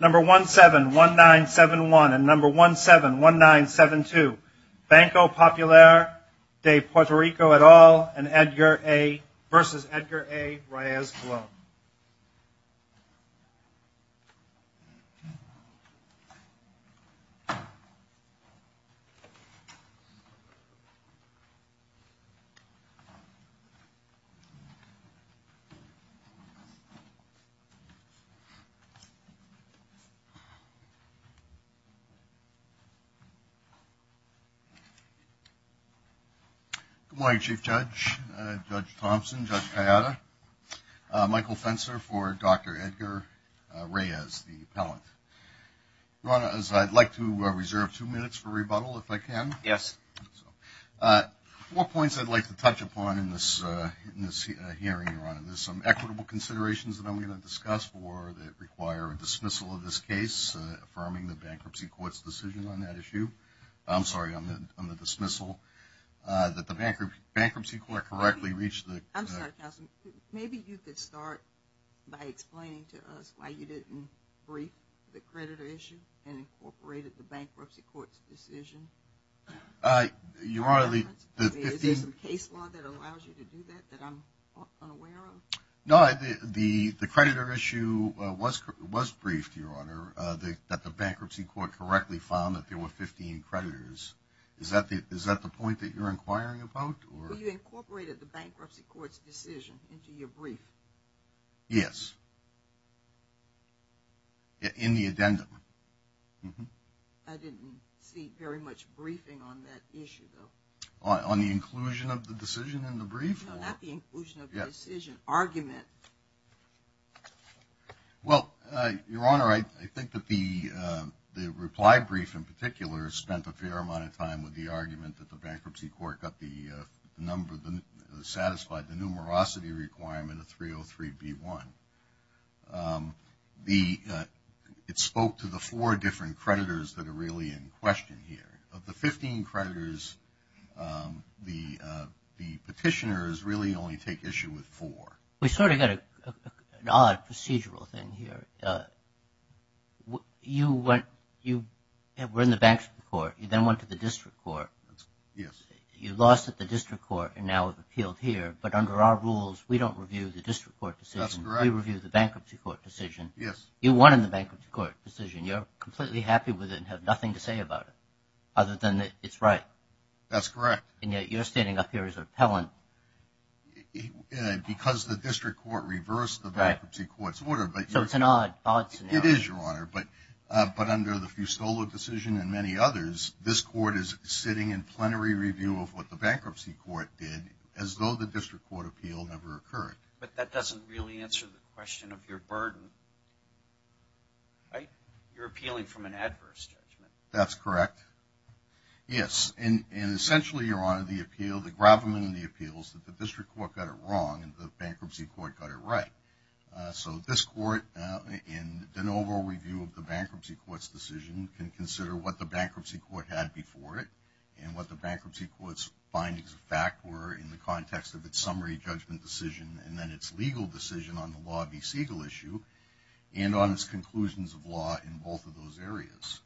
Number 171971 and number 171972, Banco Popular de Puerto Rico et al. and Edgar A. v. Edgar A. Reyes-Colon. Good morning, Chief Judge, Judge Thompson, Judge Payada, Michael Fenser for Dr. Edgar Reyes, the appellant. Your Honor, as I'd like to reserve two minutes for rebuttal, if I can. Yes. Four points I'd like to touch upon in this hearing, Your Honor. There's some equitable considerations that I'm going to discuss for that require a dismissal of this case, affirming the Bankruptcy Court's decision on that issue. I'm sorry, on the dismissal, that the Bankruptcy Court correctly reached the... I'm sorry, Counselor, maybe you could start by explaining to us why you didn't brief the creditor issue and incorporated the Bankruptcy Court's decision. Your Honor, the... Is there some case law that allows you to do that that I'm unaware of? No, the creditor issue was briefed, Your Honor, that the Bankruptcy Court correctly found that there were 15 creditors. Is that the point that you're inquiring about? Well, you incorporated the Bankruptcy Court's decision into your brief. Yes. In the addendum. I didn't see very much briefing on that issue, though. On the inclusion of the decision in the brief? No, not the inclusion of the decision. Argument. Well, Your Honor, I think that the reply brief in particular spent a fair amount of time with the argument that the Bankruptcy Court got the number, satisfied the numerosity requirement of 303B1. It spoke to the four petitioners really only take issue with four. We sort of got an odd procedural thing here. You went... You were in the Bankruptcy Court. You then went to the District Court. Yes. You lost at the District Court and now have appealed here, but under our rules, we don't review the District Court decision. That's correct. We review the Bankruptcy Court decision. Yes. You won in the Bankruptcy Court decision. You're completely happy with it and have nothing to say about it other than that it's right. That's correct. And yet you're standing up here as an appellant. Because the District Court reversed the Bankruptcy Court's order. So it's an odd, odd scenario. It is, Your Honor, but under the Fustolo decision and many others, this court is sitting in plenary review of what the Bankruptcy Court did as though the District Court appeal never occurred. But that doesn't really answer the question of your burden. Right? You're appealing from an adverse judgment. That's correct. Yes. And essentially, Your Honor, the appeal, the gravamen in the appeal is that the District Court got it wrong and the Bankruptcy Court got it right. So this court, in an overall review of the Bankruptcy Court's decision, can consider what the Bankruptcy Court had before it and what the Bankruptcy Court's findings of fact were in the context of its summary judgment decision and then its legal decision on the Law v. Siegel issue and on its conclusions of law in both of those areas.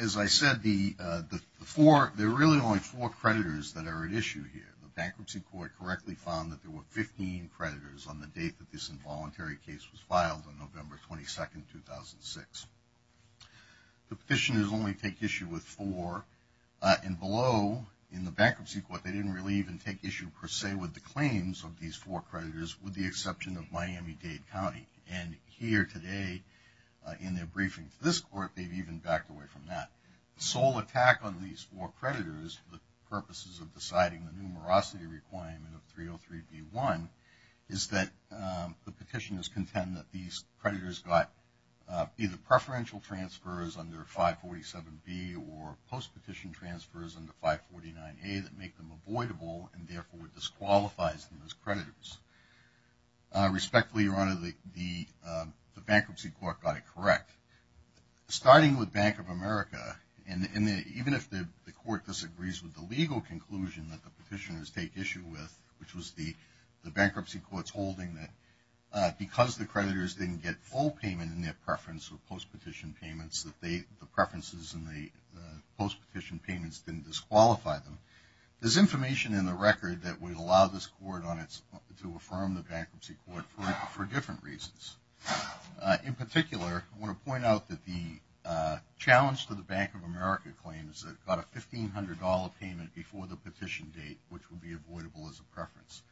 As I said, there are really only four creditors that are at issue here. The Bankruptcy Court correctly found that there were 15 creditors on the date that this involuntary case was filed on November 22, 2006. The petitioners only take issue with four. And below, in the exception of Miami-Dade County. And here today, in their briefing to this court, they've even backed away from that. The sole attack on these four creditors for the purposes of deciding the numerosity requirement of 303B1 is that the petitioners contend that these creditors got either preferential transfers under 547B or post-petition transfers under 549A that make them avoidable and therefore disqualifies them as creditors. Respectfully, Your Honor, the Bankruptcy Court got it correct. Starting with Bank of America, and even if the court disagrees with the legal conclusion that the petitioners take issue with, which was the Bankruptcy Court's holding that because the creditors didn't get full payment in their preference or post-petition payments, that the preferences in the post-petition payments didn't disqualify them, there's information in the record that would allow this court to affirm the Bankruptcy Court for different reasons. In particular, I want to point out that the challenge to the Bank of America claim is that it got a $1,500 payment before the petition date, which would be avoidable as a preference.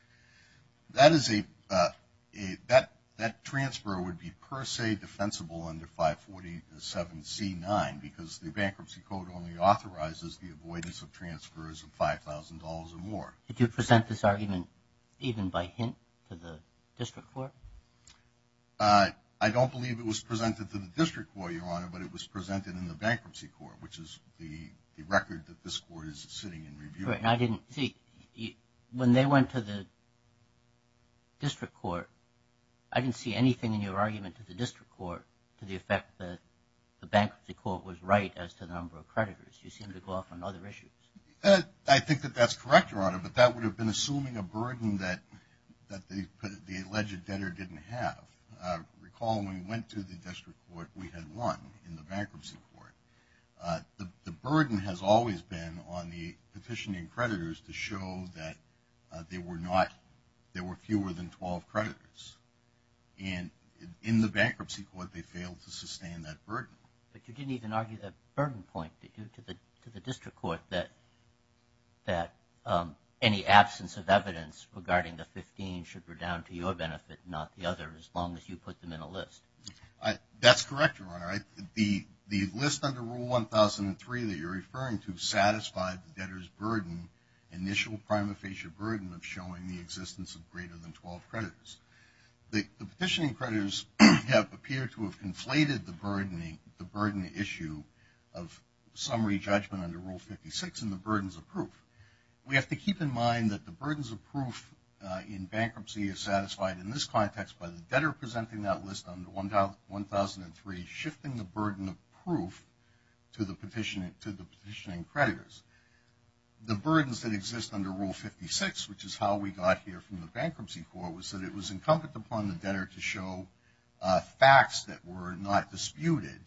That transfer would be per 547C9 because the Bankruptcy Court only authorizes the avoidance of transfers of $5,000 or more. Did you present this argument even by hint to the District Court? I don't believe it was presented to the District Court, Your Honor, but it was presented in the Bankruptcy Court, which is the record that this court is sitting and reviewing. When they went to the District Court, I didn't see anything in your argument to the District Court that the Bankruptcy Court was right as to the number of creditors. You seem to go off on other issues. I think that that's correct, Your Honor, but that would have been assuming a burden that the alleged debtor didn't have. Recall when we went to the District Court, we had one in the Bankruptcy Court. The burden has always been on the petitioning creditors to show that there were fewer than 12 creditors. In the Bankruptcy Court, they failed to sustain that burden. But you didn't even argue that burden point, did you, to the District Court that any absence of evidence regarding the 15 should be down to your benefit, not the other, as long as you put them in a list? That's correct, Your Honor. The list under Rule 1003 that you're referring to satisfied the debtor's initial prima facie burden of showing the existence of greater than 12 creditors. The petitioning creditors have appeared to have conflated the burden issue of summary judgment under Rule 56 and the burdens of proof. We have to keep in mind that the burdens of proof in bankruptcy is satisfied in this context by the debtor presenting that list under 1003, shifting the burden of proof to the petitioning creditors. The burdens that exist under Rule 56, which is how we got here from the Bankruptcy Court, was that it was incumbent upon the debtor to show facts that were not disputed,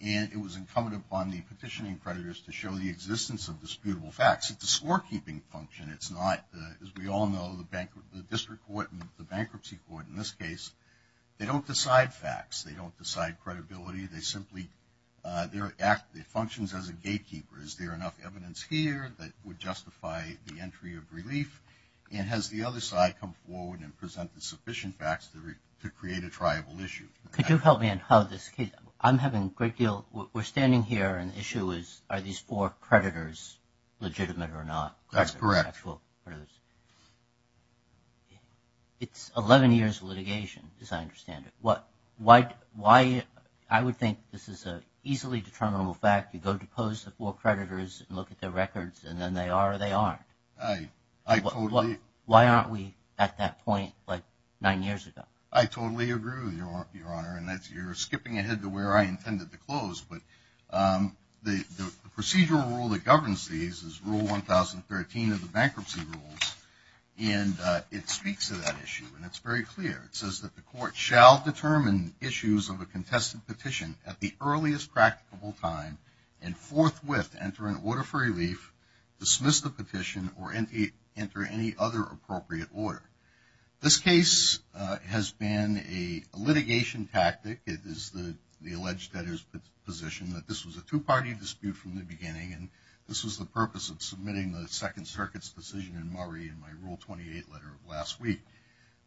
and it was incumbent upon the petitioning creditors to show the existence of disputable facts. It's a scorekeeping function. It's not, as we all know, the District Court and the Bankruptcy Court, they don't decide facts. They don't decide credibility. They simply, they act, they function as a gatekeeper. Is there enough evidence here that would justify the entry of relief? And has the other side come forward and presented sufficient facts to create a triable issue? Could you help me on how this case, I'm having a great deal, we're standing here and the issue is, are these four creditors legitimate or not? That's correct. It's 11 years of litigation, as I understand it. Why, I would think this is an easily determinable fact, you go to pose to four creditors and look at their records and then they are or they aren't. I totally agree. Why aren't we at that point like nine years ago? I totally agree with you, Your Honor, and you're skipping ahead to where I intended to close, but the procedural rule that governs these is Rule 1013 of the bankruptcy rules and it speaks to that issue and it's very clear. It says that the court shall determine issues of a contested petition at the earliest practicable time and forthwith enter an order for relief, dismiss the petition, or enter any other appropriate order. This case has been a litigation tactic. It is the alleged debtor's position that this was a two-party dispute from the beginning and this was the purpose of submitting the Second Circuit's decision in Murray in my Rule 28 letter of last week.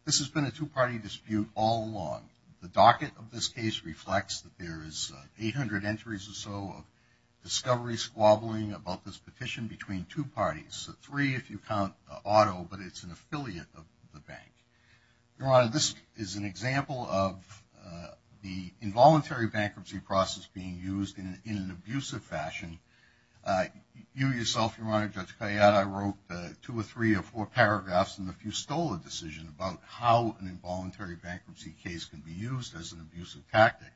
This has been a two-party dispute all along. The docket of this case reflects that there is 800 entries or so of discovery squabbling about this petition between two parties. It's a three if you count Otto, but it's an affiliate of the bank. Your Honor, this is an example of the involuntary bankruptcy process being used in an abusive fashion. You yourself, Your Honor, Judge Kayyad, I wrote two or three or four paragraphs in the Fustola decision about how an involuntary bankruptcy case can be used as an abusive tactic.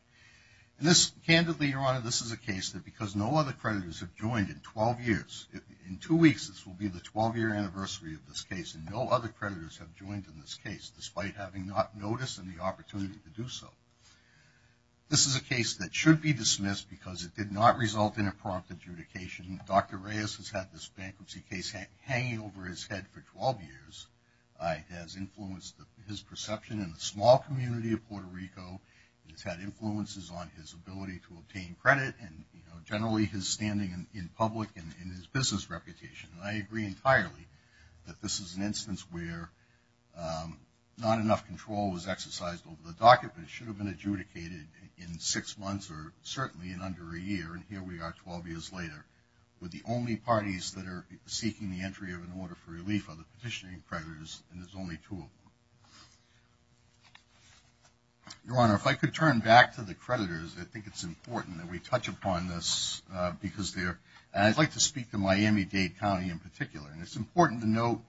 Candidly, Your Honor, this is a case that because no other creditors have joined in 12 years, in two weeks this will be the 12-year anniversary of this case, and no other creditors have joined in this case despite having not noticed and the opportunity to do so. This is a case that should be dismissed because it did not result in a prompt adjudication. Dr. Reyes has had this bankruptcy case hanging over his head for 12 years. It has influenced his perception in the small community of Puerto Rico. It has had influences on his ability to obtain credit and generally his standing in public and his business reputation, and I agree entirely that this is an instance where not enough control was exercised over the docket, but it should have been adjudicated in six months or certainly in under a year, and here we are 12 years later with the only parties that are seeking the entry of an order for relief are the petitioning creditors, and there's only two of them. Your Honor, if I could turn back to the creditors, I think it's important that we touch upon this because they're, and I'd like to speak to Miami-Dade County in particular, and it's important to note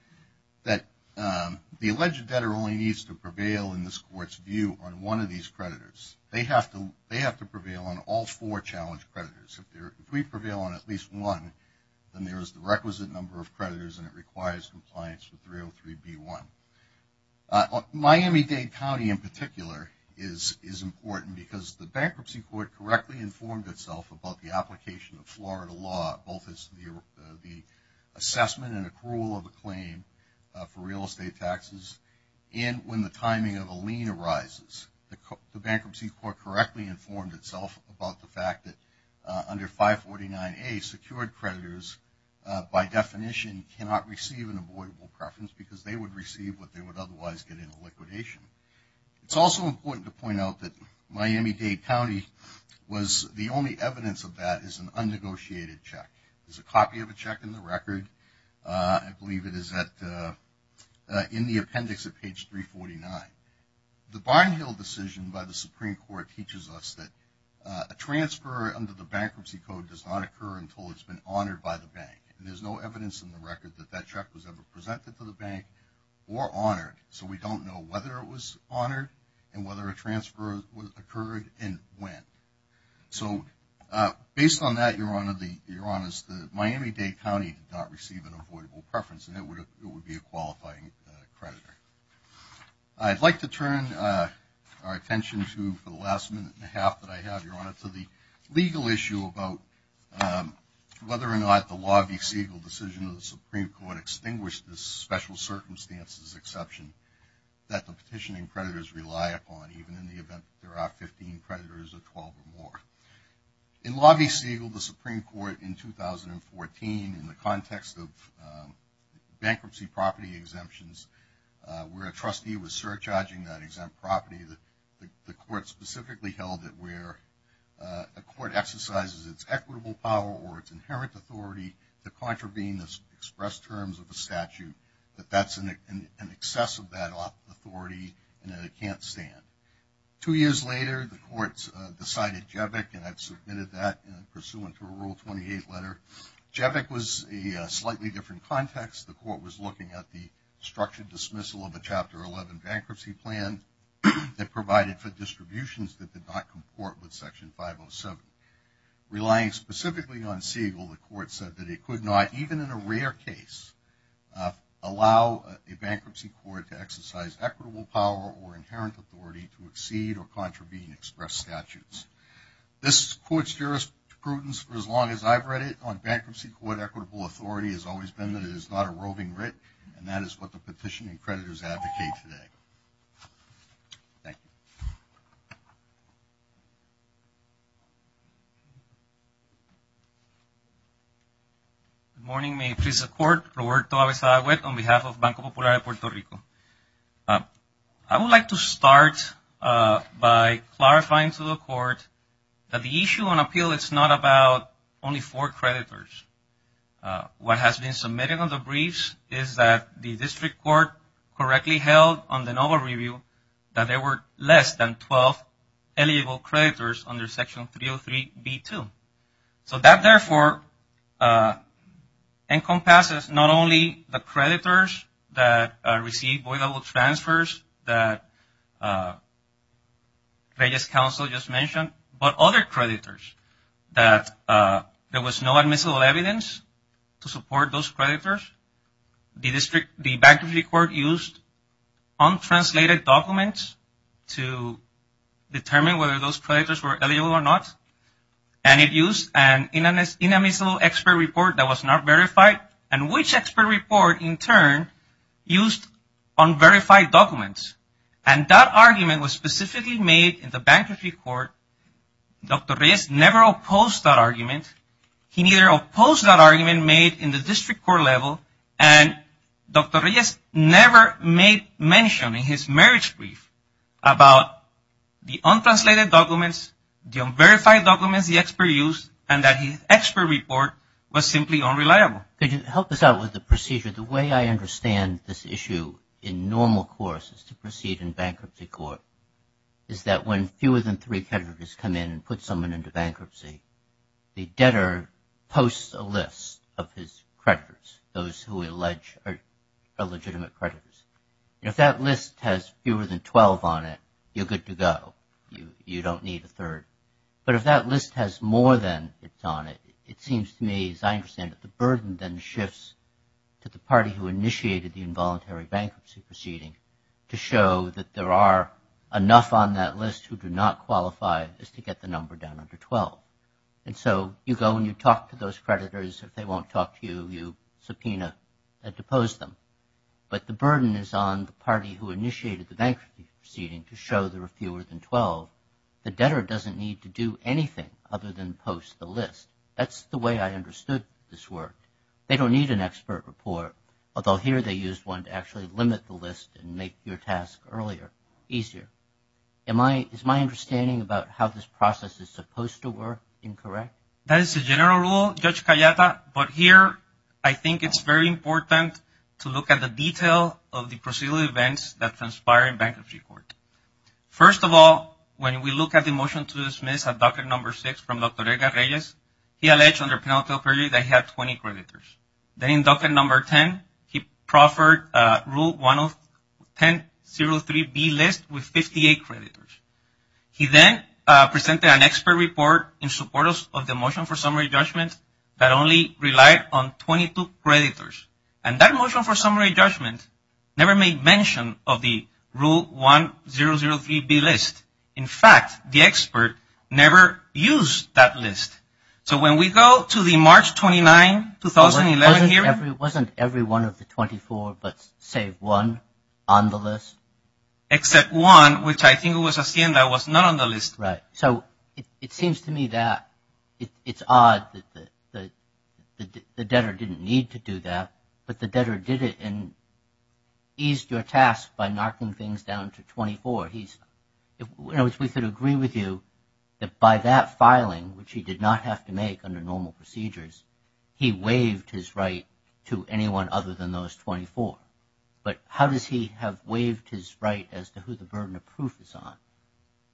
that the alleged debtor only needs to prevail in this Court's view on one of these creditors. They have to prevail on all four challenge creditors. If we prevail on at least one, then there is the requisite number of creditors and it requires compliance with 303B1. Miami-Dade County in particular is important because the Bankruptcy Court correctly informed itself about the application of Florida law, both as the assessment and accrual of a claim for real estate taxes, and when the timing of a lien arises. The Bankruptcy Court correctly informed itself about the fact that under 549A secured creditors by definition cannot receive an avoidable preference because they would receive what they would otherwise get in a liquidation. It's also important to point out that Miami-Dade County was, the only evidence of that is an unnegotiated check. There's a copy of a check in the record, I believe it is in the appendix at page 349. The Barnhill decision by the Supreme Court teaches us that a transfer under the Bankruptcy Code does not occur until it's been honored by the Bank, and there's no evidence in the record that that check was ever presented to the Bank or honored, so we don't know whether it was honored and whether a transfer occurred and when. So, based on that, Your Honor, Miami-Dade County did not receive an avoidable preference and it would be a qualifying creditor. I'd like to turn our attention to, for the last minute and a half that I have, Your Honor, to the legal issue about whether or not the Law v. Siegel decision of the Supreme Court extinguished this special circumstances exception that the petitioning creditors rely upon, even in the event that there are 15 creditors or 12 or more. In Law v. Siegel, the Supreme Court in 2014, in the context of bankruptcy property exemptions, where a trustee was surcharging that exempt property, the Court specifically held it where a court exercises its equitable power or its inherent authority to contravene the express terms of a statute, that that's an excess of that authority and that it can't stand. Two years later, the Court decided JEVAC, and I've submitted that pursuant to a Rule 28 letter. JEVAC was a slightly different context. The Court was looking at the structured dismissal of a Chapter 11 bankruptcy plan that provided for distributions that did not comport with Section 507. Relying specifically on Siegel, the Court said that it could not, even in a rare case, allow a bankruptcy court to exercise equitable power or inherent authority to exceed or contravene express statutes. This Court's jurisprudence, for as long as I've read it, on bankruptcy court equitable authority has always been that it is not a roving writ, and that is what the petitioning creditors advocate today. Thank you. Good morning. May it please the Court, Roberto Abesagüe, on behalf of Banco Popular de Puerto Rico. I would like to start by clarifying to the Court that the issue on appeal is not about only four creditors. What has been submitted on the briefs is that the District Court correctly held on the NOVA review that there were less than 12 eligible creditors under Section 303B2. So that, therefore, encompasses not only the creditors that received voidable transfers that Reyes Counsel just mentioned, but other creditors that there was no admissible evidence to support those creditors. The District, the Bankruptcy Court used untranslated documents to address the unadmissible expert report that was not verified, and which expert report, in turn, used unverified documents. And that argument was specifically made in the Bankruptcy Court. Dr. Reyes never opposed that argument. He neither opposed that argument made in the District Court level. And Dr. Reyes never made mention in his marriage brief about the untranslated documents, the unverified documents the expert used, and that his expert report was simply unreliable. Could you help us out with the procedure? The way I understand this issue in normal course is to proceed in Bankruptcy Court is that when fewer than three creditors come in and put someone into bankruptcy, the debtor posts a list of his creditors, those who are on it, you're good to go. You don't need a third. But if that list has more than it's on it, it seems to me, as I understand it, the burden then shifts to the party who initiated the involuntary bankruptcy proceeding to show that there are enough on that list who do not qualify as to get the number down under 12. And so you go and you talk to those creditors. If they won't talk to you, you initiated the bankruptcy proceeding to show there are fewer than 12, the debtor doesn't need to do anything other than post the list. That's the way I understood this work. They don't need an expert report, although here they used one to actually limit the list and make your task earlier, easier. Is my understanding about how this process is supposed to work incorrect? That is the general rule, Judge Cayata. But here, I think it's very important to look at the detail of the procedural events that transpire in bankruptcy court. First of all, when we look at the motion to dismiss at docket number 6 from Dr. Edgar Reyes, he alleged under penalty of perjury that he had 20 creditors. Then in docket number 10, he proffered rule 10-03-B list with 58 creditors. He then presented an expert report in support of the motion for summary judgment that only relied on 22 creditors. And that motion for summary judgment never made mention of the rule 10-03-B list. In fact, the expert never used that list. So when we go to the March 29, 2011 hearing... Wasn't every one of the 24 but save one on the list? Except one, which I think it was Hacienda was not on the list. Right. So it seems to me that it's odd that the debtor didn't need to do that, but the debtor did it and eased your task by knocking things down to 24. In other words, we could agree with you that by that filing, which he did not have to make under normal procedures, he waived his right to anyone other than those 24. But how does he have waived his right as to who the burden of proof is on?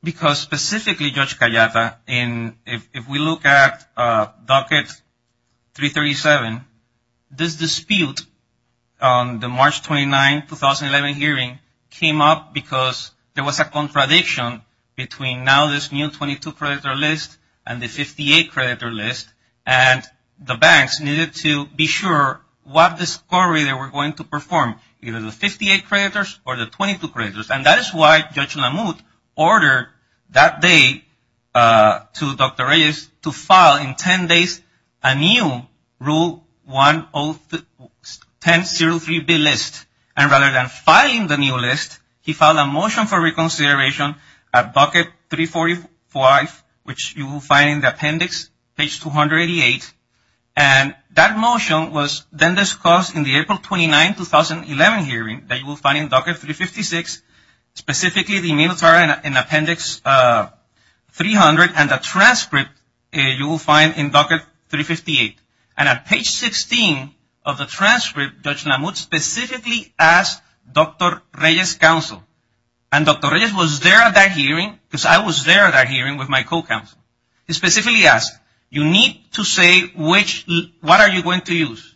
Because specifically, Judge Cayetano, if we look at docket 337, this dispute on the March 29, 2011 hearing came up because there was a contradiction between now this new 22 creditor list and the 58 creditor list, and the banks needed to be sure what discovery they were going to perform, either the 58 creditors or the 22 creditors. And that is why Judge Lamothe ordered that day to Dr. Reyes to file in 10 days a new Rule 10-03-B list. And rather than filing the new list, he filed a motion for reconsideration at docket 345, which you will find in the appendix, page 288. And that motion was then discussed in the April 29, 2011 hearing that you will find in docket 356, specifically the military and appendix 300 and the transcript you will find in docket 358. And at page 16 of the transcript, Judge Lamothe specifically asked Dr. Reyes' counsel. And Dr. Reyes was there at that hearing because I was there at that hearing with my co-counsel. He specifically asked, you need to say which, what are you going to use?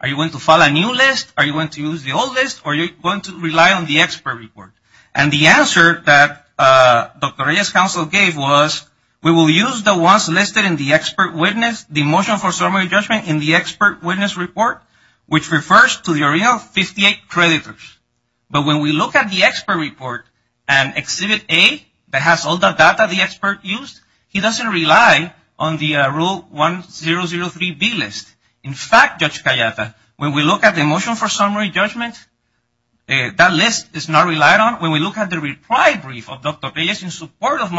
Are you going to file a new list? Are you going to use the old list? Or are you going to rely on the expert report? And the answer that Dr. Reyes' counsel gave was, we will use the ones listed in the expert witness, the motion for summary judgment in the expert witness report, which refers to the original 58 creditors. But when we look at the expert report and Exhibit A that has all the data the expert used, he doesn't rely on the Rule 1003B list. In fact, Judge Cayata, when we look at the motion for summary judgment, that list is not relied on. When we look at the reply brief of Dr. Reyes in support of the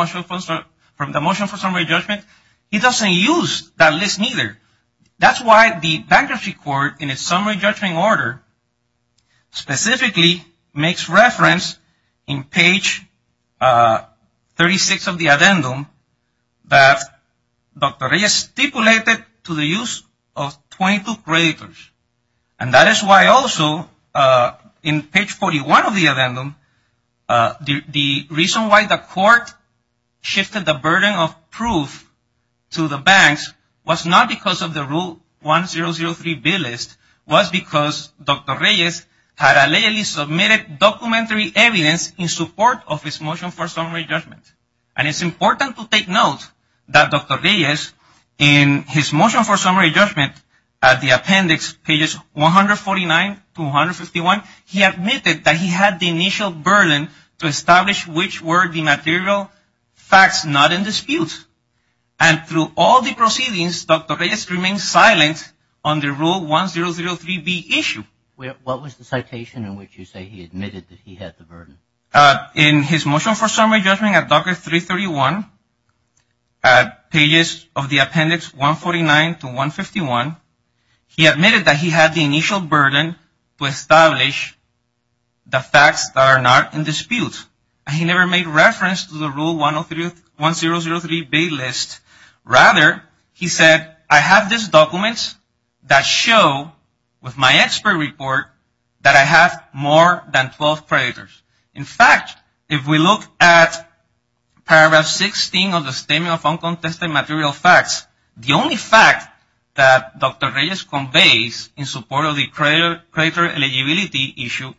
motion for summary judgment, he doesn't use that list neither. That's why the bankruptcy court, in its summary judgment order, specifically makes reference in page 36 of the addendum that Dr. Reyes stipulated to the use of 22 creditors. And that is why also in page 41 of the addendum, the reason why the court shifted the burden of proof to the banks was not because of the Rule 1003B list. It was because Dr. Reyes had allegedly submitted documentary evidence in support of his motion for summary judgment. And it's important to take note that Dr. Reyes, in his motion for summary judgment, at the appendix, pages 149 to 151, he admitted that he had the initial burden to establish which were the material facts not in dispute. And through all the proceedings, Dr. Reyes remained silent on the Rule 1003B issue. What was the citation in which you say he admitted that he had the burden? In his motion for summary judgment at Docker 331, pages of the appendix 149 to 151, he admitted that he had the initial burden to establish the facts that are not in dispute. And he never made reference to the Rule 1003B list. Rather, he said, I have these documents that show with my expert report that I have more than 12 creditors. In fact, if we look at paragraph 16 of the Statement of Uncontested Material Facts, the only fact that Dr. Reyes conveys in support of the creditor eligibility issue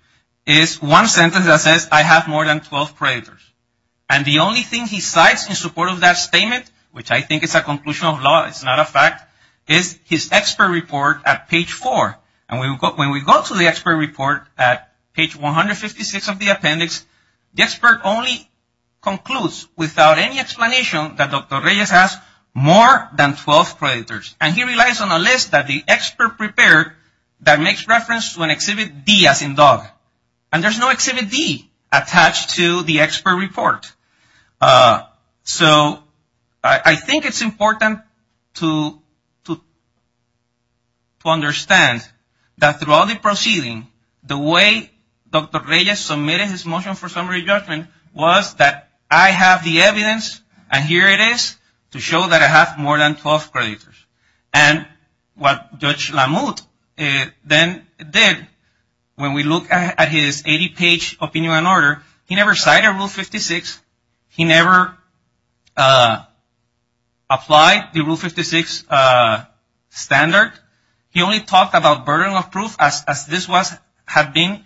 is one sentence that says I have more than 12 creditors. And the only thing he cites in support of that statement, which I think is a conclusion of law, it's not a fact, is his expert report at page 4. And when we go to the expert report at page 156 of the appendix, the expert only concludes without any explanation that Dr. Reyes has more than 12 creditors. And he relies on a list that the expert prepared that makes reference to an exhibit D as in dog. And there's no exhibit D attached to the expert report. So I think it's important to understand that throughout the proceeding, the way Dr. Reyes submitted his motion for summary judgment was that I have the evidence, and here it is, to show that I have more than 12 creditors. And what Judge Lamothe then did, when we look at his 80-page opinion on order, he never cited Rule 56. He never applied the Rule 56 standard. He only talked about burden of proof as this had been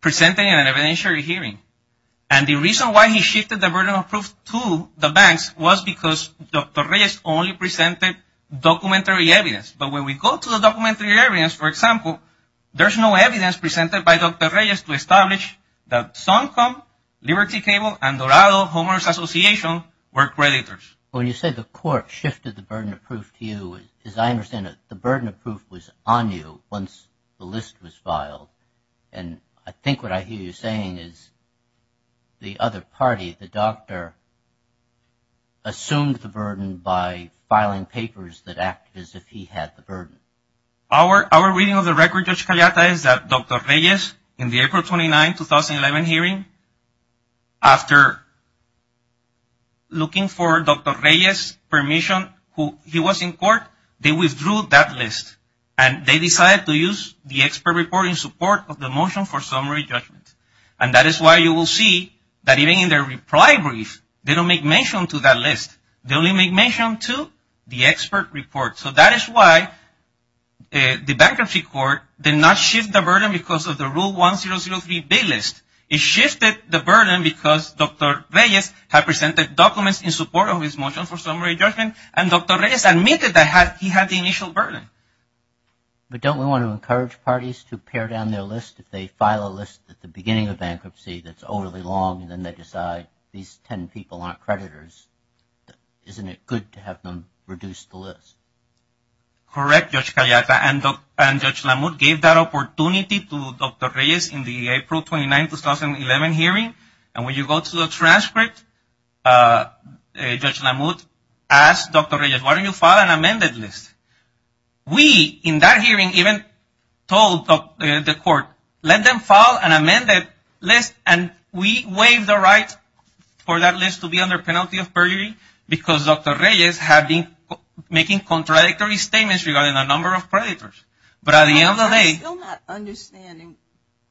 presented in an evidentiary hearing. And the reason why he shifted the burden of proof to the banks was because Dr. Reyes only presented documents as documentary evidence. But when we go to the documentary evidence, for example, there's no evidence presented by Dr. Reyes to establish that Suncom, Liberty Cable, and Dorado Homeowners Association were creditors. When you say the court shifted the burden of proof to you, as I understand it, the burden of proof was on you once the list was filed. And I think what I hear you saying is the other party, the doctor, assumed the burden by filing papers that acted as if he had the burden. Our reading of the record, Judge Caliata, is that Dr. Reyes, in the April 29, 2011 hearing, after looking for Dr. Reyes' permission, he was in court, they withdrew that list. And they decided to use the expert report in support of the motion for summary judgment. And that is why you will see that even in their reply brief, they don't make mention to that list. They only make mention to the expert report. So that is why the bankruptcy court did not shift the burden because of the Rule 1003 B list. It shifted the burden because Dr. Reyes had presented documents in support of his motion for summary judgment, and Dr. Reyes admitted that he had the initial burden. But don't we want to encourage parties to pare down their list if they file a list at the beginning of bankruptcy that is overly long, and then they decide these 10 people aren't creditors, isn't it good to have them reduce the list? Correct, Judge Caliata. And Judge Lamut gave that opportunity to Dr. Reyes in the April 29, 2011 hearing. And when you go to the transcript, Judge Lamut asked Dr. Reyes, why don't you file an amended list? We, in that hearing, even told the court, let them file an amended list, and we waive the right for that list to be under penalty of burglary because Dr. Reyes had been making contradictory statements regarding the number of creditors. But at the end of the day... I'm still not understanding,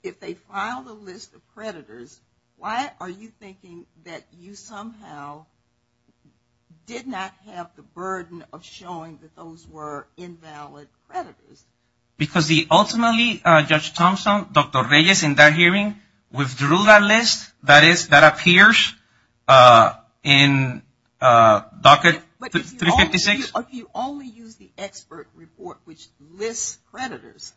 if they filed a list of creditors, why are you thinking that you somehow did not have the burden of showing that those were invalid creditors? Because ultimately, Judge Thompson, Dr. Reyes, in that hearing, withdrew that list that appears in Docket 356. But if you only use the expert report, which lists creditors,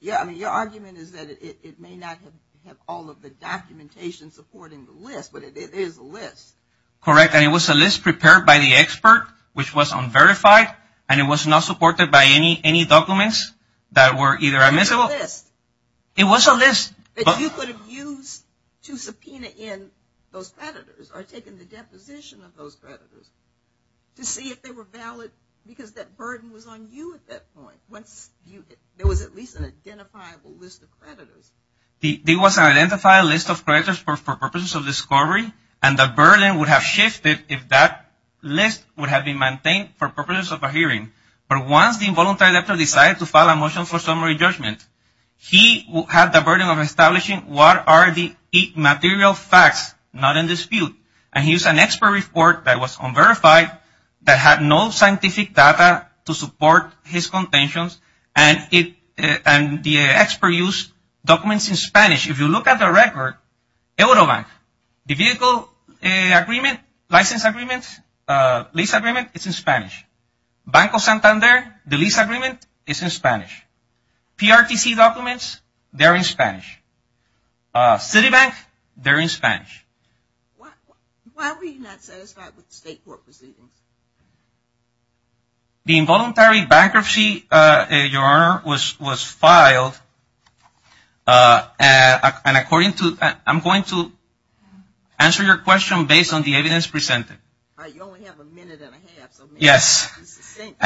your argument is that it may not have all of the documentation supporting the list, but it is a list. Correct, and it was a list prepared by the expert, which was unverified, and it was not supported by any documents that were either admissible... It was a list that you could have used to subpoena in those creditors, or taken the deposition of those creditors, to see if they were valid, because that burden was on you at that point. There was at least an identifiable list of creditors, and the burden would have shifted if that list would have been maintained for purposes of a hearing. But once the involuntary debtor decided to file a motion for summary judgment, he had the burden of establishing what are the material facts not in dispute, and he used an expert report that was unverified, that had no scientific data to support his contentions, and the expert used documents in Spanish. If you look at the record, Eurobank, the vehicle agreement, license agreement, lease agreement, it's in Spanish. Banco Santander, the lease agreement, it's in Spanish. PRTC documents, they're in Spanish. Citibank, they're in Spanish. Why were you not satisfied with the State Court proceedings? The involuntary bankruptcy, Your Honor, was filed, and according to, I'm going to answer your question based on the evidence presented. You only have a minute and a half, so make it succinct.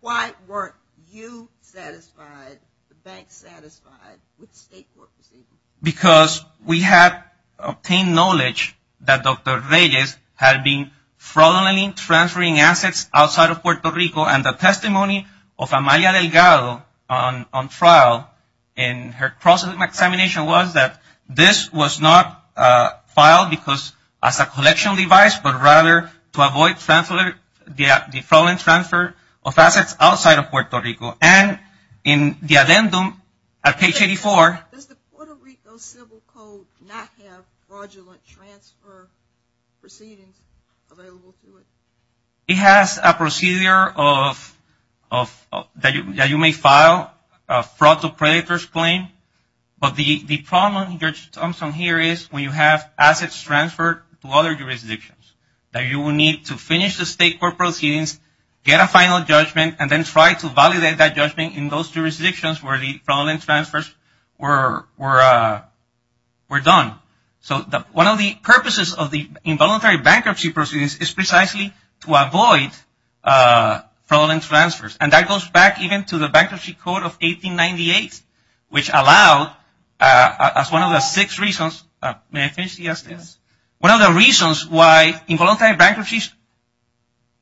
Why weren't you satisfied, the bank satisfied with the State Court proceedings? Because we had obtained knowledge that Dr. Reyes had been fraudulently transferring assets outside of Puerto Rico, and the testimony of Amalia Delgado on trial in her cross-examination was that this was not filed as a collection device, but rather to avoid the fraudulent transfer of assets outside of Puerto Rico. Why did those civil codes not have fraudulent transfer proceedings available to it? It has a procedure that you may file, a fraud to predator's claim, but the problem here is when you have assets transferred to other jurisdictions. That you will need to finish the State Court proceedings, get a final judgment, and then try to validate that judgment in those jurisdictions where the fraudulent transfers were done. So, one of the purposes of the involuntary bankruptcy proceedings is precisely to avoid fraudulent transfers, and that goes back even to the Bankruptcy Code of 1898, which allowed, as one of the six reasons, may I finish this? Yes. One of the reasons why involuntary bankruptcies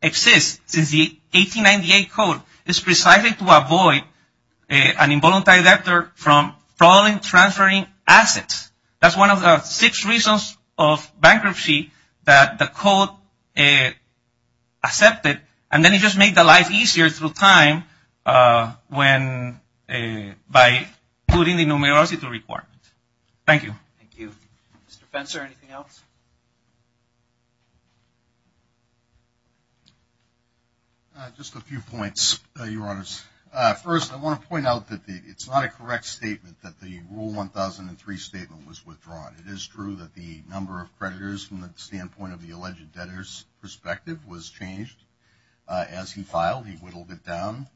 exist since the 1898 Code is precisely to avoid an involuntary debtor from fraudulently transferring assets. That's one of the six reasons of bankruptcy that the Code accepted, and then it just made the life easier through time by putting the debtors out. Just a few points, Your Honors. First, I want to point out that it's not a correct statement that the Rule 1003 statement was withdrawn. It is true that the number of creditors from the standpoint of the alleged debtors perspective was changed as he filed. He whittled it down.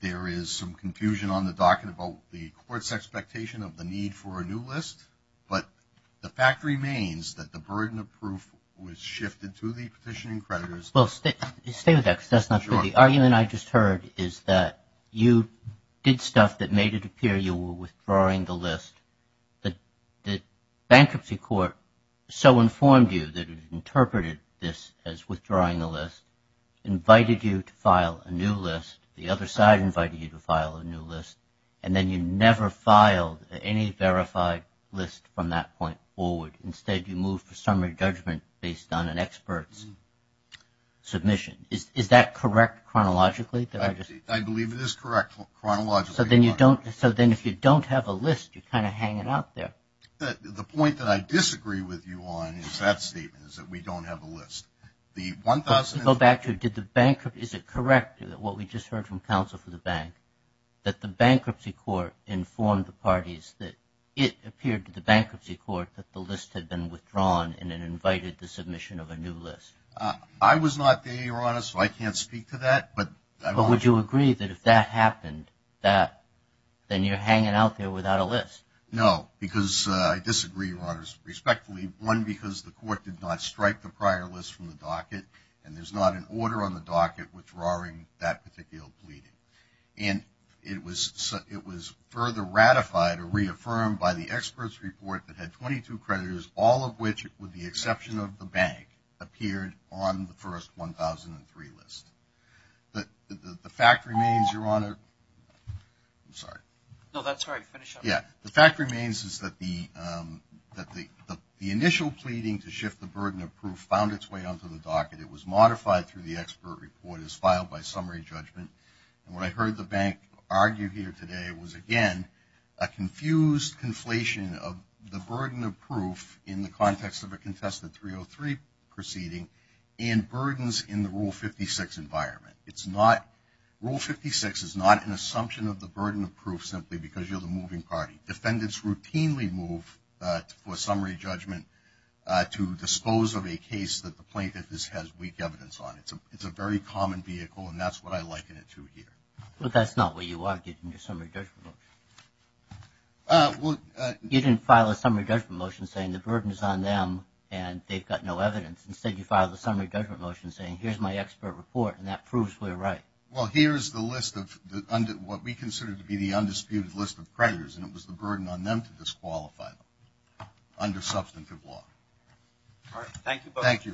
There is some confusion on the docket about the Court's expectation of the need for a new list. But the fact remains that the burden of proof was shifted to the petitioning creditors. Well, stay with that because that's not good. The argument I just heard is that you did stuff that made it appear you were withdrawing the list. The bankruptcy court so informed you that it interpreted this as withdrawing the list, invited you to file a new list. The other side invited you to file a new list, and then you never filed any verified list from that point forward. Instead, you moved for summary judgment based on an expert's submission. Is that correct chronologically? I believe it is correct chronologically, Your Honor. So then if you don't have a list, you're kind of hanging out there. The point that I disagree with you on is that statement, is that we don't have a list. Is it correct, what we just heard from counsel for the bank, that the bankruptcy court informed the parties that it appeared to the bankruptcy court that the list had been withdrawn and then invited the submission of a new list? I was not there, Your Honor, so I can't speak to that. But would you agree that if that happened, then you're hanging out there without a list? No, because I disagree, Your Honor, respectfully. One, because the court did not strike the prior list from the docket, and there's not an order on the docket withdrawing that particular pleading. And it was further ratified or reaffirmed by the expert's report that had 22 creditors, all of which, with the exception of the bank, appeared on the first 1003 list. The fact remains, Your Honor, I'm sorry. No, that's all right. Finish up. Yeah, the fact remains is that the initial pleading to shift the burden of proof found its way onto the docket. It was modified through the expert report as filed by summary judgment. And what I heard the bank argue here today was, again, a confused conflation of the burden of proof in the context of a contested 303 proceeding and burdens in the Rule 56 environment. Rule 56 is not an assumption of the burden of proof simply because you're the moving party. Defendants routinely move for summary judgment to dispose of a case that the plaintiff has weak evidence on. It's a very common vehicle, and that's what I liken it to here. But that's not what you argued in your summary judgment motion. Well, you didn't file a summary judgment motion saying the burden is on them and they've got no evidence. Instead, you filed a summary judgment motion saying, here's my expert report, and that proves we're right. Well, here's the list of what we consider to be the undisputed list of creditors, and it was the burden on them to disqualify them under substantive law. All right. Thank you both.